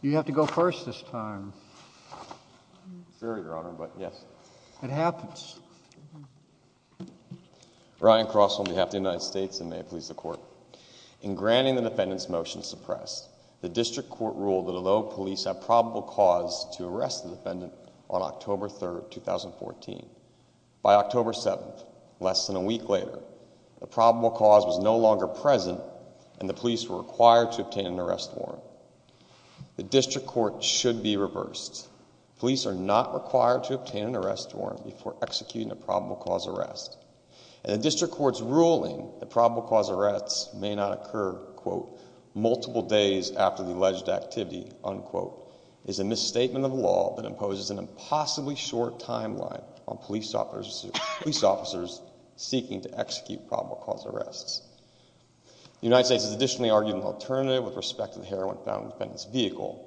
You have to go first this time. Sorry, Your Honor, but yes. It happens. Ryan Cross, on behalf of the United States, and may it please the Court. In granting the defendant's motion to suppress, the District Court ruled that although police have probable cause to arrest the defendant on October 3, 2014, by October 7, less than a week later, the probable cause was no longer present and the police were required to obtain an arrest warrant. The District Court should be reversed. Police are not required to obtain an arrest warrant before executing a probable cause arrest, and the District Court's ruling that probable cause arrests may not occur, quote, multiple days after the alleged activity, unquote, is a misstatement of law that imposes an impossibly short timeline on police officers seeking to execute probable cause arrests. The United States has additionally argued an alternative with respect to the heroin found in the defendant's vehicle,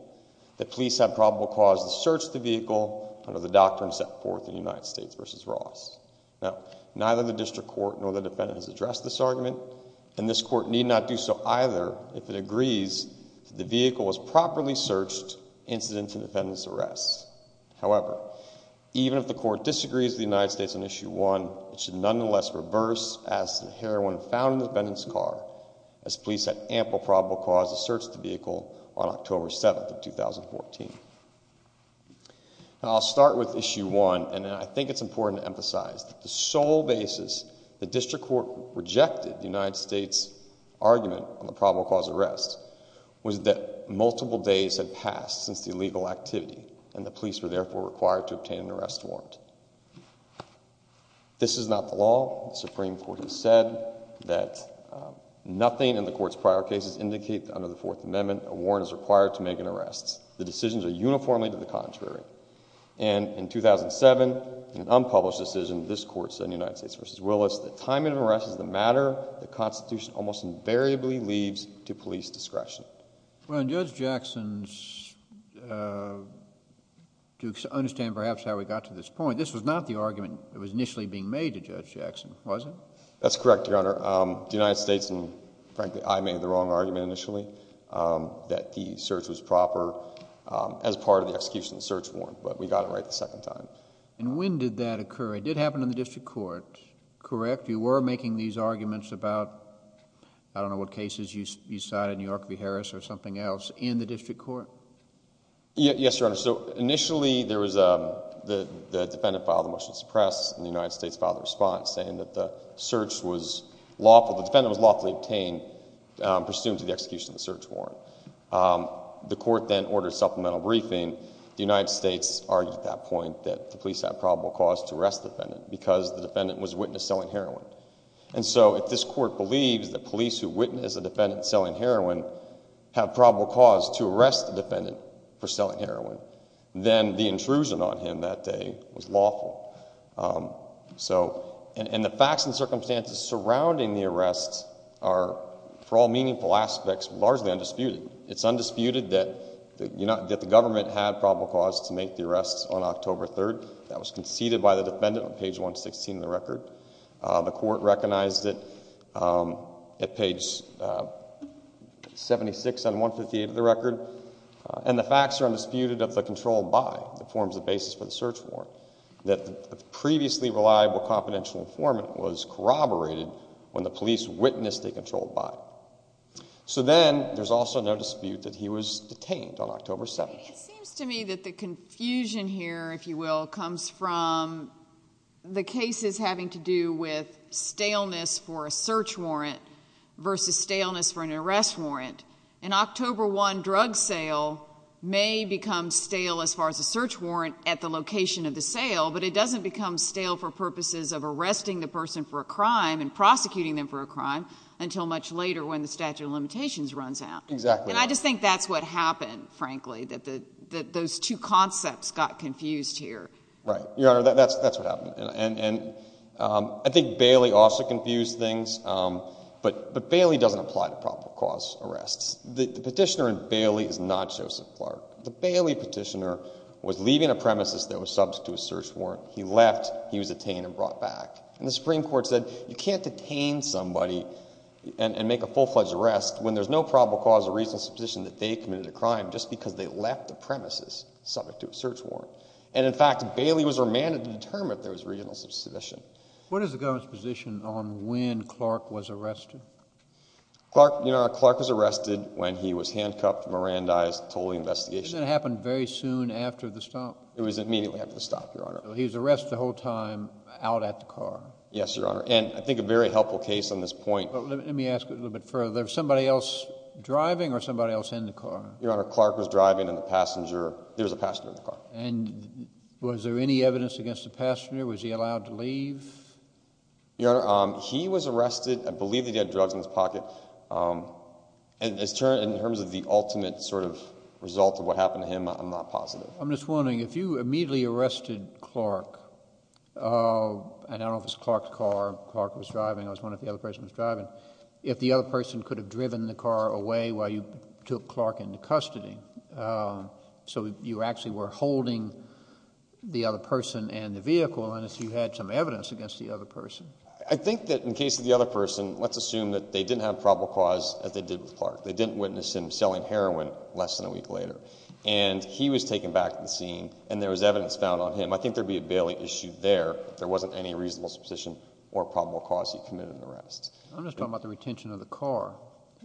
that police have probable cause to search the vehicle under the doctrine set forth in United States v. Ross. Now, neither the District Court nor the defendant has addressed this argument, and this Court need not do so either if it agrees that the vehicle was properly searched incident to the defendant's arrest. However, even if the Court disagrees with the United States on Issue 1, it should nonetheless reverse as to the heroin found in the defendant's car, as police had ample probable cause to search the vehicle on October 7, 2014. Now, I'll start with Issue 1, and then I think it's important to emphasize that the sole basis the District Court rejected the United States' argument on the probable cause arrest was that multiple days had passed since the illegal activity, and the police were therefore required to obtain an arrest warrant. This is not the law. The Supreme Court has said that nothing in the Court's prior cases indicate that under the Fourth Amendment, a warrant is required to make an arrest. The decisions are uniformly to the contrary. And in 2007, in an unpublished decision, this Court said in United States v. Willis that the time of an arrest is a matter the Constitution almost invariably leaves to police discretion. Well, and Judge Jackson's, to understand perhaps how we got to this point, this was not the argument that was initially being made to Judge Jackson, was it? That's correct, Your Honor. The United States, and frankly, I made the wrong argument initially, that the search was proper as part of the execution of the search warrant, but we got it right the second time. And when did that occur? It did happen in the District Court, correct? You were making these arguments about, I don't know what cases you cited, New York v. Harris or something else, in the District Court? Yes, Your Honor. So initially, there was the defendant filed a motion to suppress, and the United States filed a response saying that the search was lawful, the defendant was lawfully obtained pursuant to the execution of the search warrant. The Court then ordered supplemental briefing. The United States argued at that point that the police had probable cause to arrest the defendant because the defendant was a witness selling heroin. And so if this Court believes that police who witness a defendant selling heroin have probable cause to arrest the defendant for selling heroin, then the intrusion on him that day was lawful. And the facts and circumstances surrounding the arrests are, for all meaningful aspects, largely undisputed. It's undisputed that the government had probable cause to make the arrests on October 3rd. That was conceded by the defendant on page 116 of the record. The Court recognized it at page 76 on 158 of the record. And the facts are undisputed of the control by the forms of basis for the search warrant that the previously reliable confidential informant was corroborated when the police witnessed a controlled body. So then there's also no dispute that he was detained on October 7th. It seems to me that the confusion here, if you will, comes from the cases having to do with staleness for a search warrant versus staleness for an arrest warrant. An October 1 drug sale may become stale as far as a search warrant at the location of the sale, but it doesn't become stale for purposes of arresting the person for a crime and prosecuting them for a crime until much later when the statute of limitations runs out. Exactly. And I just think that's what happened, frankly, that those two concepts got confused here. Right. Your Honor, that's what happened. And I think Bailey also confused things, but Bailey doesn't apply to probable cause arrests. The petitioner in Bailey is not Joseph Clark. The Bailey petitioner was leaving a premises that was subject to a search warrant. He left. He was detained and brought back. And the Supreme Court said you can't detain somebody and make a full-fledged arrest when there's no probable cause of reasonable suspicion that they committed a crime just because they left the premises subject to a search warrant. And, in fact, Bailey was remanded to determine if there was reasonable suspicion. What is the government's position on when Clark was arrested? Your Honor, Clark was arrested when he was handcuffed, Mirandized, totally investigated. And that happened very soon after the stop? It was immediately after the stop, Your Honor. So he was arrested the whole time out at the car? Yes, Your Honor, and I think a very helpful case on this point. Let me ask a little bit further. Was somebody else driving or somebody else in the car? Your Honor, Clark was driving and the passenger, there was a passenger in the car. And was there any evidence against the passenger? Was he allowed to leave? Your Honor, he was arrested. I believe that he had drugs in his pocket. In terms of the ultimate sort of result of what happened to him, I'm not positive. I'm just wondering, if you immediately arrested Clark, and I don't know if it was Clark's car, Clark was driving, I was wondering if the other person was driving, if the other person could have driven the car away while you took Clark into custody so you actually were holding the other person and the vehicle and if you had some evidence against the other person. I think that in the case of the other person, let's assume that they didn't have a probable cause as they did with Clark. They didn't witness him selling heroin less than a week later. And he was taken back to the scene and there was evidence found on him. I think there would be a bailing issue there if there wasn't any reasonable supposition or probable cause he committed an arrest. I'm just talking about the retention of the car.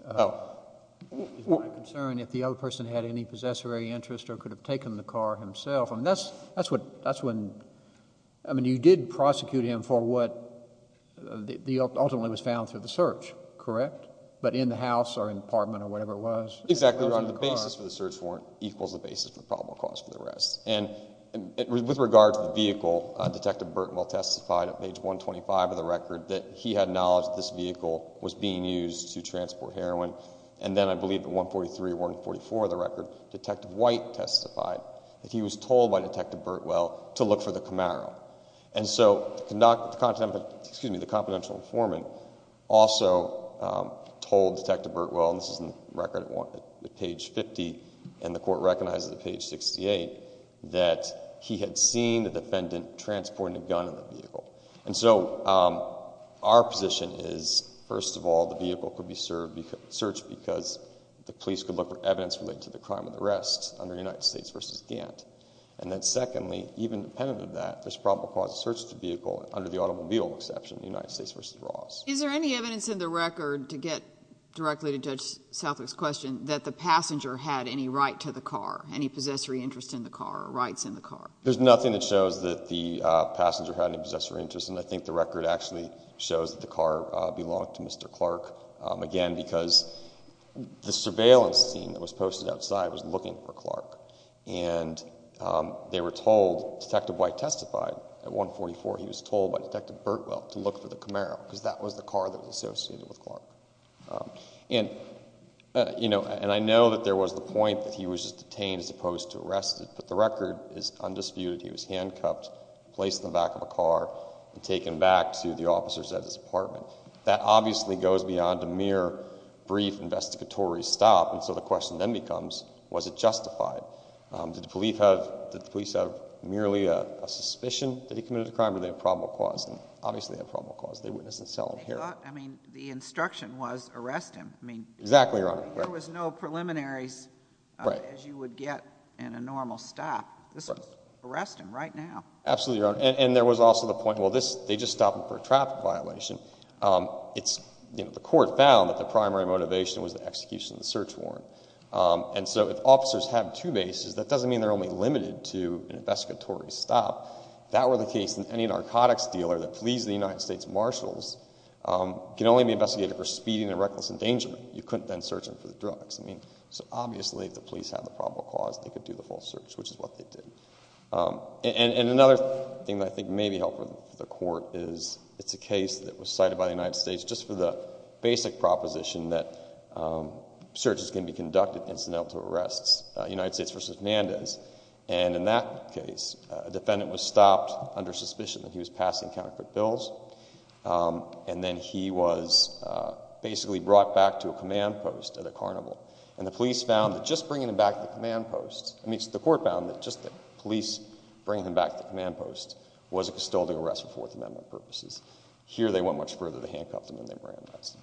Oh. Is my concern if the other person had any possessory interest or could have taken the car himself. That's when, I mean you did prosecute him for what ultimately was found through the search, correct? But in the house or in the apartment or whatever it was. Exactly. The basis for the search warrant equals the basis for the probable cause for the arrest. And with regard to the vehicle, Detective Burtonwell testified at page 125 of the record that he had knowledge that this vehicle was being used to transport heroin. And then I believe at 143 or 144 of the record, Detective White testified that he was told by Detective Burtonwell to look for the Camaro. And so the confidential informant also told Detective Burtonwell, and this is in the record at page 50 and the court recognizes at page 68, that he had seen the defendant transporting a gun in the vehicle. And so our position is, first of all, the vehicle could be searched because the police could look for evidence related to the crime of the arrest under United States v. Gantt. And then secondly, even independent of that, there's probable cause to search the vehicle under the automobile exception, United States v. Ross. Is there any evidence in the record, to get directly to Judge Southwick's question, that the passenger had any right to the car, any possessory interest in the car or rights in the car? There's nothing that shows that the passenger had any possessory interest, and I think the record actually shows that the car belonged to Mr. Clark. Again, because the surveillance team that was posted outside was looking for Clark. And they were told, Detective White testified at 144, he was told by Detective Burtonwell to look for the Camaro, because that was the car that was associated with Clark. And I know that there was the point that he was just detained as opposed to arrested, but the record is undisputed. He was handcuffed, placed in the back of a car, and taken back to the officers at his apartment. That obviously goes beyond a mere brief investigatory stop, and so the question then becomes, was it justified? Did the police have merely a suspicion that he committed a crime? Did they have probable cause? Obviously they had probable cause. They witnessed a solid hearing. I mean, the instruction was arrest him. Exactly, Your Honor. There was no preliminaries as you would get in a normal stop. This was arrest him right now. Absolutely, Your Honor. And there was also the point, well, they just stopped him for a traffic violation. The court found that the primary motivation was the execution of the search warrant. And so if officers have two bases, that doesn't mean they're only limited to an investigatory stop. If that were the case, then any narcotics dealer that flees the United States Marshals can only be investigated for speeding and reckless endangerment. You couldn't then search them for the drugs. So obviously if the police had the probable cause, they could do the full search, which is what they did. And another thing that I think may be helpful for the court is it's a case that was cited by the United States just for the basic proposition that searches can be conducted incidental to arrests, United States v. Hernandez. And in that case, a defendant was stopped under suspicion that he was passing counterfeit bills. And then he was basically brought back to a command post at a carnival. And the police found that just bringing him back to the command post, I mean, the court found that just the police bringing him back to the command post was a custodial arrest for Fourth Amendment purposes. Here they went much further. They handcuffed him, and they were arrested.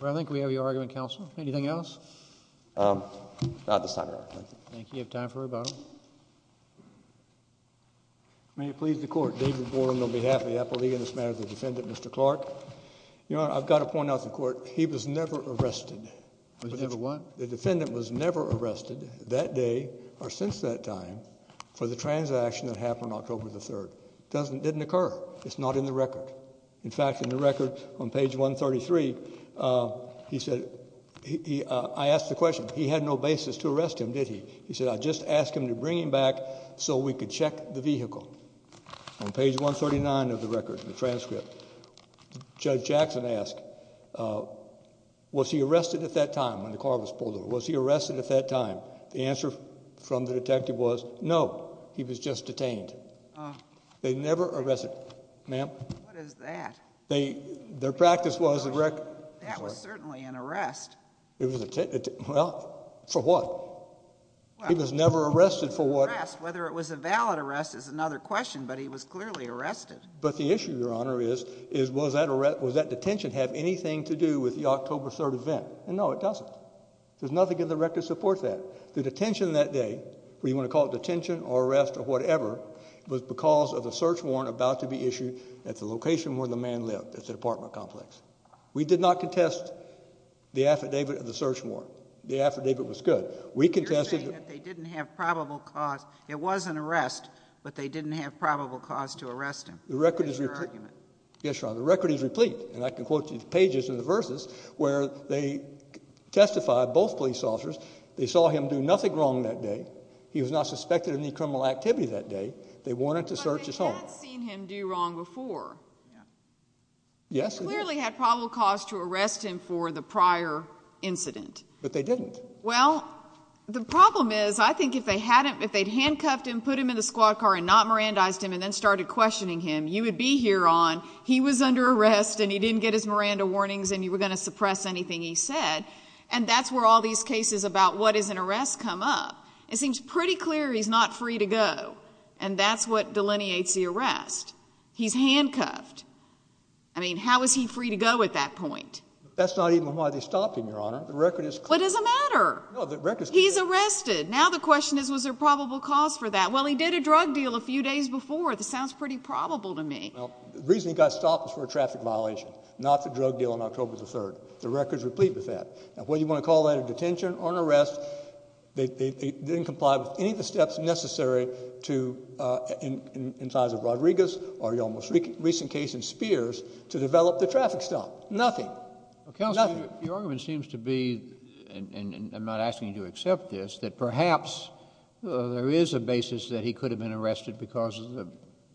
Well, I think we have your argument, counsel. Anything else? Not at this time, Your Honor. Thank you. You have time for rebuttal. May it please the Court. David Boren on behalf of the Appellee in this matter, the defendant, Mr. Clark. Your Honor, I've got to point out to the Court, he was never arrested. Was never what? The defendant was never arrested that day or since that time for the transaction that happened October 3rd. It didn't occur. It's not in the record. In fact, in the record on page 133, he said, I asked the question, he had no basis to arrest him, did he? He said, I just asked him to bring him back so we could check the vehicle. On page 139 of the record, the transcript, Judge Jackson asked, was he arrested at that time when the car was pulled over? Was he arrested at that time? The answer from the detective was, no, he was just detained. They never arrested him. Ma'am? What is that? Their practice was the record. That was certainly an arrest. Well, for what? He was never arrested for what? Whether it was a valid arrest is another question, but he was clearly arrested. But the issue, Your Honor, is was that detention have anything to do with the October 3rd event? No, it doesn't. There's nothing in the record to support that. The detention that day, whether you want to call it detention or arrest or whatever, was because of the search warrant about to be issued at the location where the man lived at the apartment complex. We did not contest the affidavit of the search warrant. The affidavit was good. You're saying that they didn't have probable cause. It was an arrest, but they didn't have probable cause to arrest him. That's your argument. Yes, Your Honor. The record is replete, and I can quote you the pages and the verses where they testified, both police officers. They saw him do nothing wrong that day. He was not suspected of any criminal activity that day. They wanted to search his home. But they had seen him do wrong before. Yes. They clearly had probable cause to arrest him for the prior incident. But they didn't. Well, the problem is I think if they'd handcuffed him, put him in the squad car and not Mirandized him and then started questioning him, you would be here on, he was under arrest and he didn't get his Miranda warnings and you were going to suppress anything he said. And that's where all these cases about what is an arrest come up. It seems pretty clear he's not free to go, and that's what delineates the arrest. He's handcuffed. I mean, how is he free to go at that point? That's not even why they stopped him, Your Honor. The record is clear. What does it matter? No, the record is clear. He's arrested. Now the question is was there probable cause for that? Well, he did a drug deal a few days before. This sounds pretty probable to me. The reason he got stopped was for a traffic violation, not the drug deal on October the 3rd. The record is complete with that. Whether you want to call that a detention or an arrest, they didn't comply with any of the steps necessary to, in the case of Rodriguez or the most recent case in Spears, to develop the traffic stop. Nothing. Nothing. Counselor, your argument seems to be, and I'm not asking you to accept this, that perhaps there is a basis that he could have been arrested because of the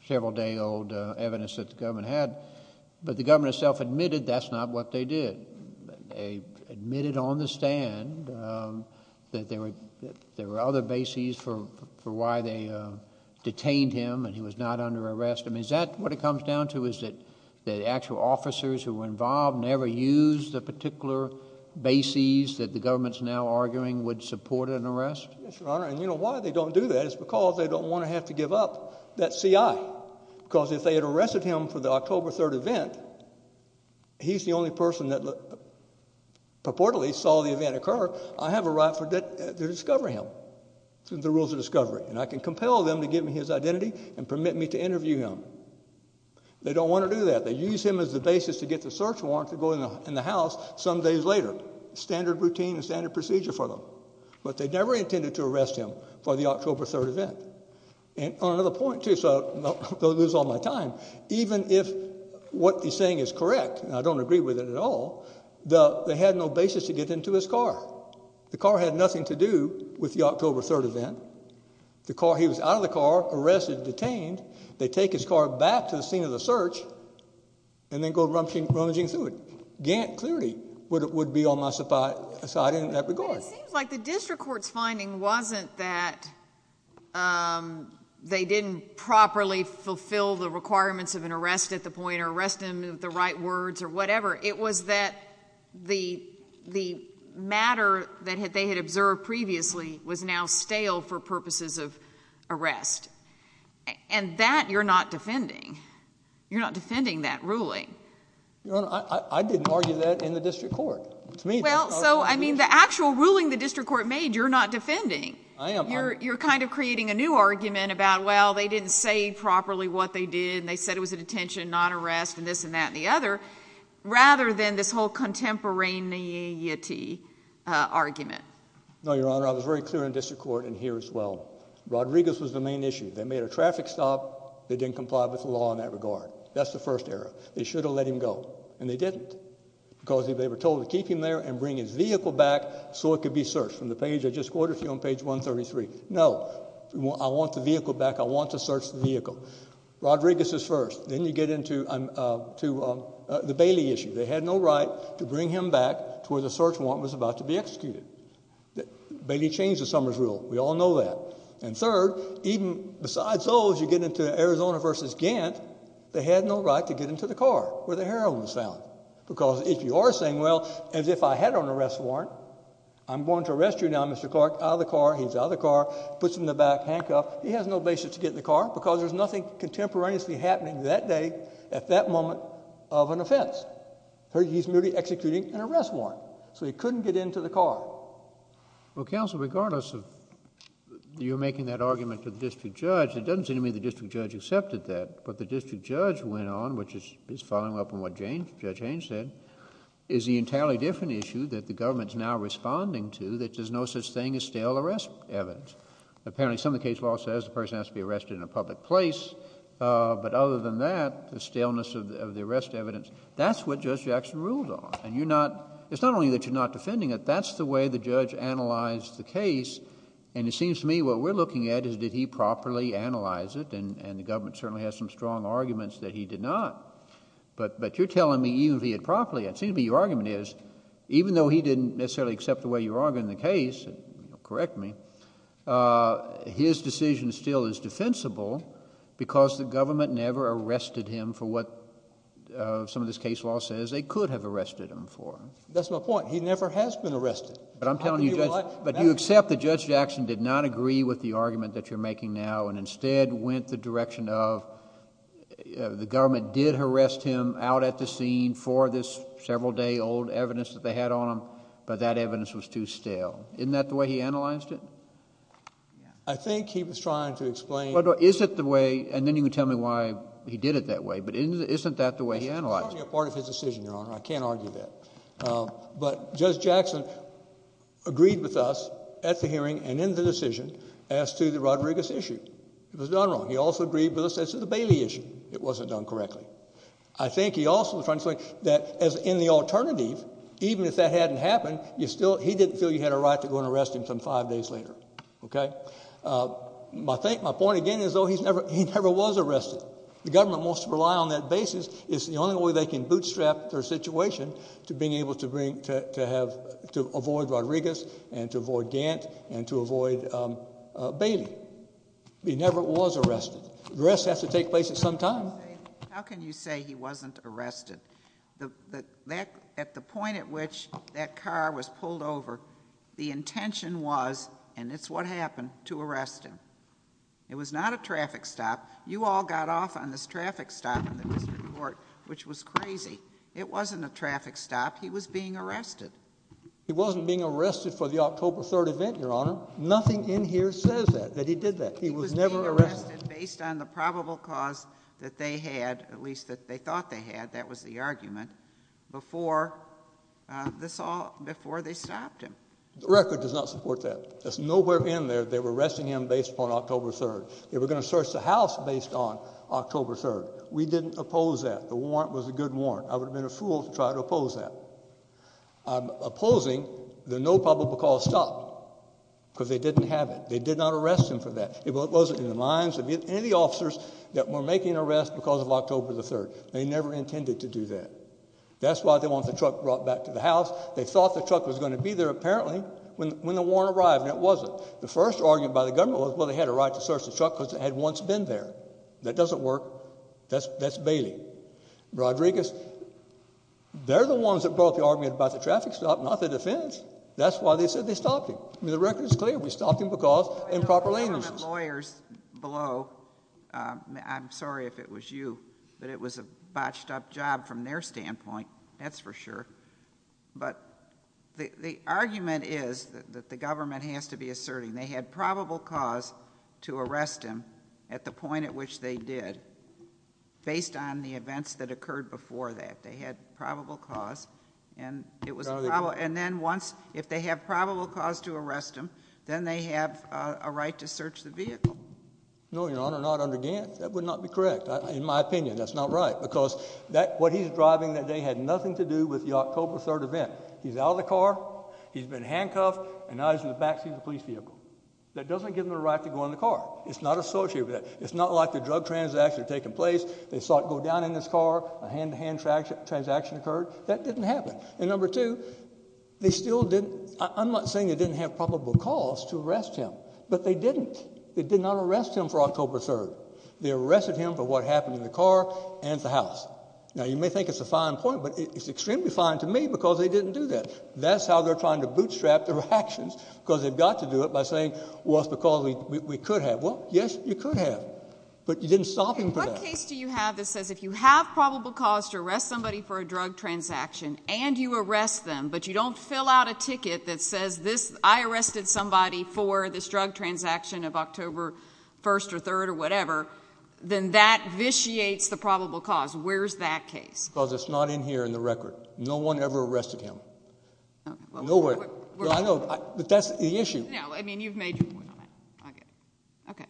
several-day-old evidence that the government had, but the government itself admitted that's not what they did. They admitted on the stand that there were other bases for why they detained him and he was not under arrest. Is that what it comes down to is that actual officers who were involved never used the particular bases that the government is now arguing would support an arrest? Yes, Your Honor, and you know why they don't do that? It's because they don't want to have to give up that CI because if they had arrested him for the October 3rd event, he's the only person that purportedly saw the event occur. I have a right to discover him through the rules of discovery, and I can compel them to give me his identity and permit me to interview him. They don't want to do that. They use him as the basis to get the search warrant to go in the house some days later. Standard routine and standard procedure for them. But they never intended to arrest him for the October 3rd event. And on another point, too, so I don't want to lose all my time, even if what he's saying is correct, and I don't agree with it at all, they had no basis to get into his car. The car had nothing to do with the October 3rd event. He was out of the car, arrested, detained. They take his car back to the scene of the search and then go rummaging through it. Gant clearly would be on my side in that regard. But it seems like the district court's finding wasn't that they didn't properly fulfill the requirements of an arrest at the point or arrest him with the right words or whatever. It was that the matter that they had observed previously was now stale for purposes of arrest. And that you're not defending. You're not defending that ruling. Your Honor, I didn't argue that in the district court. Well, so, I mean, the actual ruling the district court made, you're not defending. I am arguing. You're kind of creating a new argument about, well, they didn't say properly what they did and they said it was a detention, not arrest, and this and that and the other. Rather than this whole contemporaneity argument. No, Your Honor, I was very clear in district court and here as well. Rodriguez was the main issue. They made a traffic stop. They didn't comply with the law in that regard. That's the first error. They should have let him go. And they didn't. Because they were told to keep him there and bring his vehicle back so it could be searched. From the page I just quoted to you on page 133. No. I want the vehicle back. I want to search the vehicle. Rodriguez is first. Then you get into the Bailey issue. They had no right to bring him back to where the search warrant was about to be executed. Bailey changed the Summers rule. We all know that. And third, even besides those, you get into Arizona versus Gant, they had no right to get him to the car where the heroin was found. Because if you are saying, well, as if I had an arrest warrant, I'm going to arrest you now, Mr. Clark, out of the car. He's out of the car, puts him in the back, handcuffed. He has no basis to get in the car because there's nothing contemporaneously happening that day at that moment of an offense. He's merely executing an arrest warrant. So he couldn't get into the car. Well, counsel, regardless of your making that argument to the district judge, it doesn't seem to me the district judge accepted that. But the district judge went on, which is following up on what Judge Haynes said, is the entirely different issue that the government is now responding to that there's no such thing as stale arrest evidence. Apparently some of the case law says the person has to be arrested in a public place, but other than that, the staleness of the arrest evidence, that's what Judge Jackson ruled on. And it's not only that you're not defending it, that's the way the judge analyzed the case. And it seems to me what we're looking at is did he properly analyze it, and the government certainly has some strong arguments that he did not. But you're telling me even if he had properly, it seems to me your argument is, even though he didn't necessarily accept the way you argued in the case, and correct me, his decision still is defensible because the government never arrested him for what some of this case law says they could have arrested him for. That's my point. He never has been arrested. But I'm telling you, Judge, but you accept that Judge Jackson did not agree with the argument that you're making now and instead went the direction of the government did arrest him out at the scene for this several-day-old evidence that they had on him, but that evidence was too stale. Isn't that the way he analyzed it? I think he was trying to explain. Is it the way, and then you can tell me why he did it that way, but isn't that the way he analyzed it? It's probably a part of his decision, Your Honor. I can't argue that. But Judge Jackson agreed with us at the hearing and in the decision as to the Rodriguez issue. It was done wrong. He also agreed with us as to the Bailey issue. It wasn't done correctly. I think he also was trying to explain that in the alternative, even if that hadn't happened, he didn't feel he had a right to go and arrest him some five days later. My point again is, though, he never was arrested. The government wants to rely on that basis. It's the only way they can bootstrap their situation to being able to avoid Rodriguez and to avoid Gant and to avoid Bailey. He never was arrested. Arrests have to take place at some time. How can you say he wasn't arrested? At the point at which that car was pulled over, the intention was, and it's what happened, to arrest him. It was not a traffic stop. You all got off on this traffic stop in the district court, which was crazy. It wasn't a traffic stop. He was being arrested. He wasn't being arrested for the October 3rd event, Your Honor. Nothing in here says that, that he did that. He was never arrested. He was being arrested based on the probable cause that they had, at least that they thought they had, that was the argument, before they stopped him. The record does not support that. That's nowhere in there they were arresting him based upon October 3rd. They were going to search the house based on October 3rd. We didn't oppose that. The warrant was a good warrant. I would have been a fool to try to oppose that. I'm opposing the no probable cause stop because they didn't have it. They did not arrest him for that. It wasn't in the minds of any of the officers that were making an arrest because of October 3rd. They never intended to do that. That's why they want the truck brought back to the house. They thought the truck was going to be there apparently when the warrant arrived, and it wasn't. The first argument by the government was, well, they had a right to search the truck because it had once been there. That doesn't work. That's Bailey. Rodriguez, they're the ones that brought the argument about the traffic stop, not the defense. That's why they said they stopped him. The record is clear. We stopped him because improper languages. The government lawyers below, I'm sorry if it was you, but it was a botched up job from their standpoint. That's for sure. But the argument is that the government has to be asserting they had probable cause to arrest him at the point at which they did, based on the events that occurred before that. They had probable cause. And then once, if they have probable cause to arrest him, then they have a right to search the vehicle. No, Your Honor, not under Gant. That would not be correct. In my opinion, that's not right because what he's driving that day had nothing to do with the October 3rd event. He's out of the car. He's been handcuffed, and now he's in the back seat of the police vehicle. That doesn't give him the right to go in the car. It's not associated with that. It's not like the drug transaction had taken place. They saw it go down in his car. A hand-to-hand transaction occurred. That didn't happen. And number two, they still didn't – I'm not saying they didn't have probable cause to arrest him, but they didn't. They did not arrest him for October 3rd. They arrested him for what happened in the car and at the house. Now, you may think it's a fine point, but it's extremely fine to me because they didn't do that. That's how they're trying to bootstrap their actions because they've got to do it by saying, well, it's because we could have. Well, yes, you could have, but you didn't stop him for that. What case do you have that says if you have probable cause to arrest somebody for a drug transaction and you arrest them but you don't fill out a ticket that says, I arrested somebody for this drug transaction of October 1st or 3rd or whatever, then that vitiates the probable cause? Where's that case? Because it's not in here in the record. No one ever arrested him. Nowhere. Well, I know, but that's the issue. No, I mean, you've made your point on that. Okay.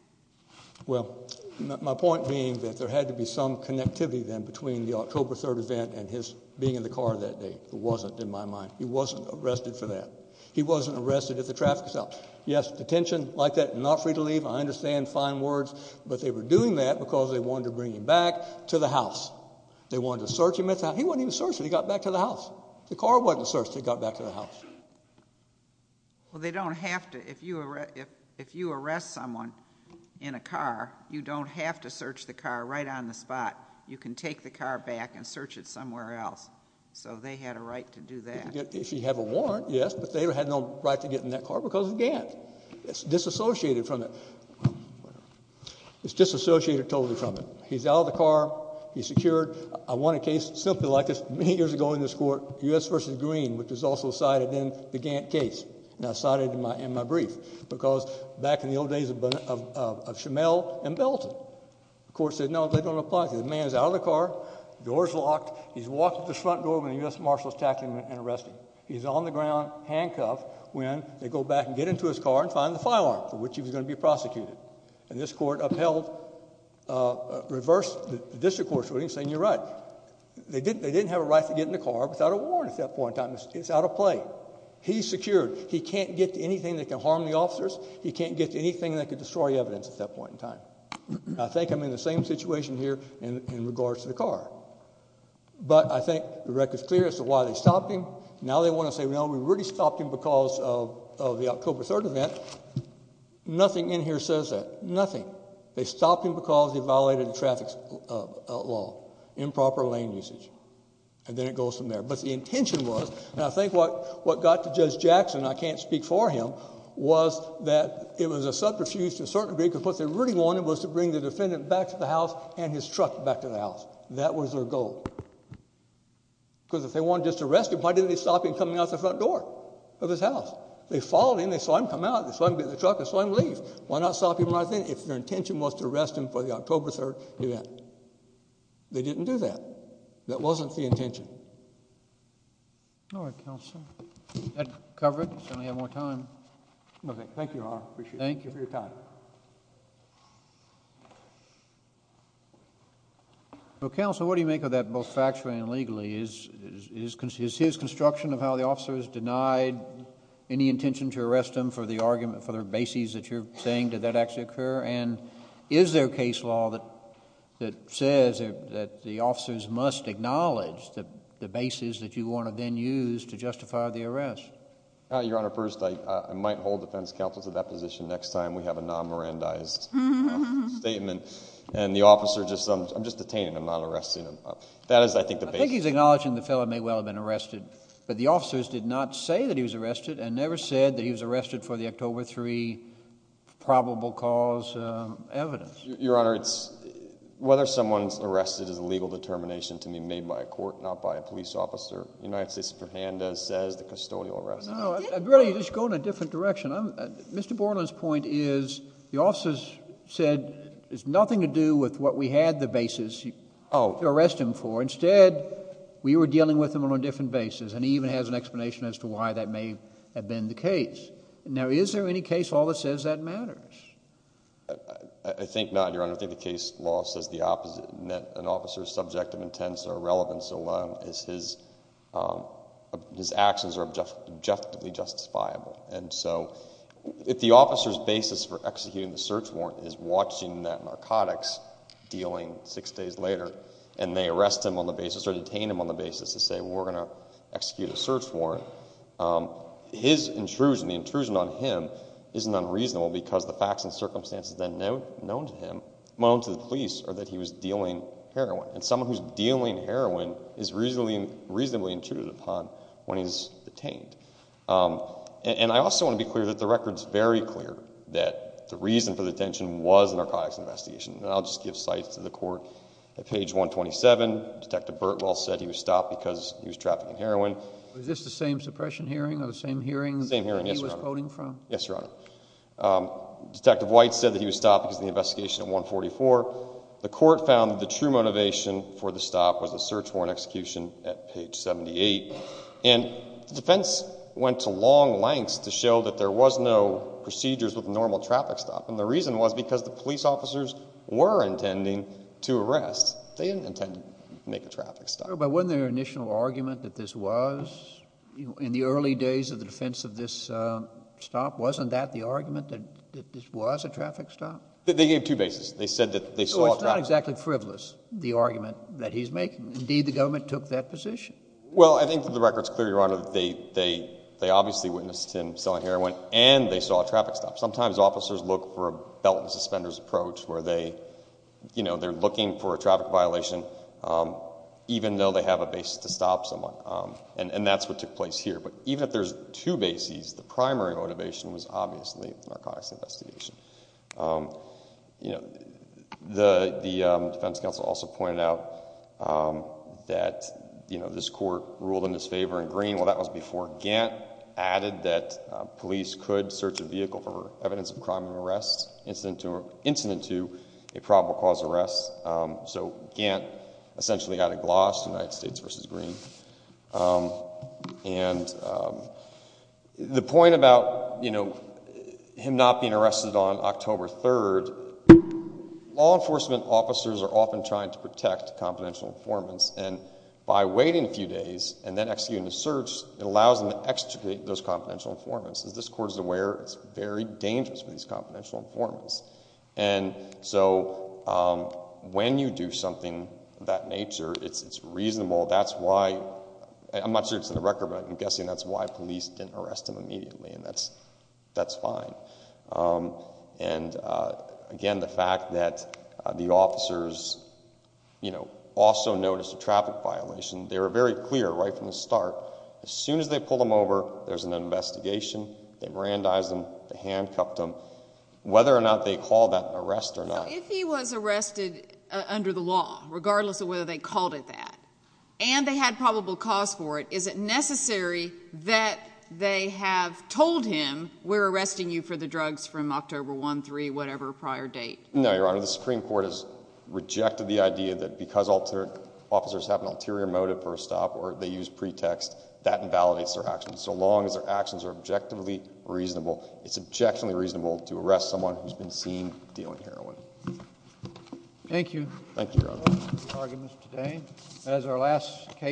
Well, my point being that there had to be some connectivity then between the October 3rd event and his being in the car that day. It wasn't in my mind. He wasn't arrested for that. He wasn't arrested if the traffic was up. Yes, detention like that, not free to leave, I understand, fine words, but they were doing that because they wanted to bring him back to the house. They wanted to search him at the house. He wasn't even searched when he got back to the house. The car wasn't searched when he got back to the house. Well, they don't have to. If you arrest someone in a car, you don't have to search the car right on the spot. You can take the car back and search it somewhere else. So they had a right to do that. If you have a warrant, yes, but they had no right to get in that car because of the gas. It's disassociated from it. It's disassociated totally from it. He's out of the car. He's secured. I want a case simply like this. Many years ago in this court, U.S. v. Green, which was also cited in the Gantt case, and I cited it in my brief because back in the old days of Schimel and Belton, the court said, no, they don't apply to you. The man is out of the car. The door is locked. He's walking to the front door when the U.S. marshal is tackling him and arresting him. He's on the ground handcuffed when they go back and get into his car and find the firearm for which he was going to be prosecuted. And this court upheld, reversed the district court's ruling saying you're right. They didn't have a right to get in the car without a warrant at that point in time. It's out of play. He's secured. He can't get to anything that can harm the officers. He can't get to anything that can destroy evidence at that point in time. I think I'm in the same situation here in regards to the car. But I think the record is clear as to why they stopped him. Now they want to say, no, we really stopped him because of the October 3rd event. Nothing in here says that. Nothing. They stopped him because he violated the traffic law, improper lane usage. And then it goes from there. But the intention was, and I think what got to Judge Jackson, I can't speak for him, was that it was a subterfuge to a certain degree because what they really wanted was to bring the defendant back to the house and his truck back to the house. That was their goal. Because if they wanted to just arrest him, why didn't they stop him coming out the front door of his house? They followed him. They saw him come out. They saw him get in the truck. They saw him leave. Why not stop him right there? If their intention was to arrest him for the October 3rd event, they didn't do that. That wasn't the intention. All right, Counsel. That covers it. We only have more time. Okay. Thank you, Your Honor. I appreciate it. Thank you for your time. Well, Counsel, what do you make of that both factually and legally? Is his construction of how the officer is denied any intention to arrest him for the argument, for the basis that you're saying, did that actually occur? And is there a case law that says that the officers must acknowledge the basis that you want to then use to justify the arrest? Your Honor, first, I might hold defense counsel to that position next time we have a non-Mirandized statement. And the officer just says, I'm just detaining him, not arresting him. That is, I think, the basis. I think he's acknowledging the fellow may well have been arrested, but the officers did not say that he was arrested and never said that he was arrested for the October 3 probable cause evidence. Your Honor, whether someone's arrested is a legal determination to me made by a court, not by a police officer. The United States Superintendent says the custodial arrest. No, really, you're just going a different direction. Mr. Borland's point is the officers said, it has nothing to do with what we had the basis to arrest him for. Instead, we were dealing with him on a different basis, and he even has an explanation as to why that may have been the case. Now, is there any case law that says that matters? I think not, Your Honor. I think the case law says the opposite, in that an officer's subjective intents or relevance alone is his actions are objectively justifiable. And so if the officer's basis for executing the search warrant is watching that narcotics dealing six days later and they arrest him on the basis or detain him on the basis to say, well, we're going to execute a search warrant, his intrusion, the intrusion on him is not reasonable because the facts and circumstances then known to him, known to the police, are that he was dealing heroin. And someone who's dealing heroin is reasonably intruded upon when he's detained. And I also want to be clear that the record's very clear that the reason for the detention was a narcotics investigation. And I'll just give sites to the court. At page 127, Detective Birtwell said he was stopped because he was trafficking heroin. Was this the same suppression hearing or the same hearing that he was quoting from? The same hearing, yes, Your Honor. Detective White said that he was stopped because of the investigation at 144. The court found that the true motivation for the stop was a search warrant execution at page 78. And the defense went to long lengths to show that there was no procedures with a normal traffic stop, and the reason was because the police officers were intending to arrest. They didn't intend to make a traffic stop. But wasn't their initial argument that this was, in the early days of the defense of this stop, wasn't that the argument that this was a traffic stop? They gave two bases. They said that they saw a traffic stop. So it's not exactly frivolous, the argument that he's making. Indeed, the government took that position. Well, I think that the record's clear, Your Honor, that they obviously witnessed him selling heroin and they saw a traffic stop. Sometimes officers look for a belt and suspenders approach where they're looking for a traffic violation even though they have a basis to stop someone, and that's what took place here. But even if there's two bases, the primary motivation was obviously a narcotics investigation. The defense counsel also pointed out that this court ruled in his favor in Green. Well, that was before Gantt added that police could search a vehicle for evidence of crime of arrest incident to a probable cause of arrest. So Gantt essentially added gloss to United States v. Green. The point about him not being arrested on October 3rd, law enforcement officers are often trying to protect confidential informants, and by waiting a few days and then executing a search, it allows them to extricate those confidential informants. As this court is aware, it's very dangerous for these confidential informants. And so when you do something of that nature, it's reasonable. I'm not sure it's in the record, but I'm guessing that's why police didn't arrest him immediately, and that's fine. And again, the fact that the officers also noticed a traffic violation, they were very clear right from the start. As soon as they pulled him over, there's an investigation. They brandized him. They handcuffed him. Whether or not they called that an arrest or not. Now, if he was arrested under the law, regardless of whether they called it that, and they had probable cause for it, is it necessary that they have told him, we're arresting you for the drugs from October 1, 3, whatever prior date? No, Your Honor. The Supreme Court has rejected the idea that because officers have an ulterior motive for a stop or they use pretext, that invalidates their actions. So long as their actions are objectively reasonable, it's objectionably reasonable to arrest someone who's been seen dealing heroin. Thank you. Thank you, Your Honor.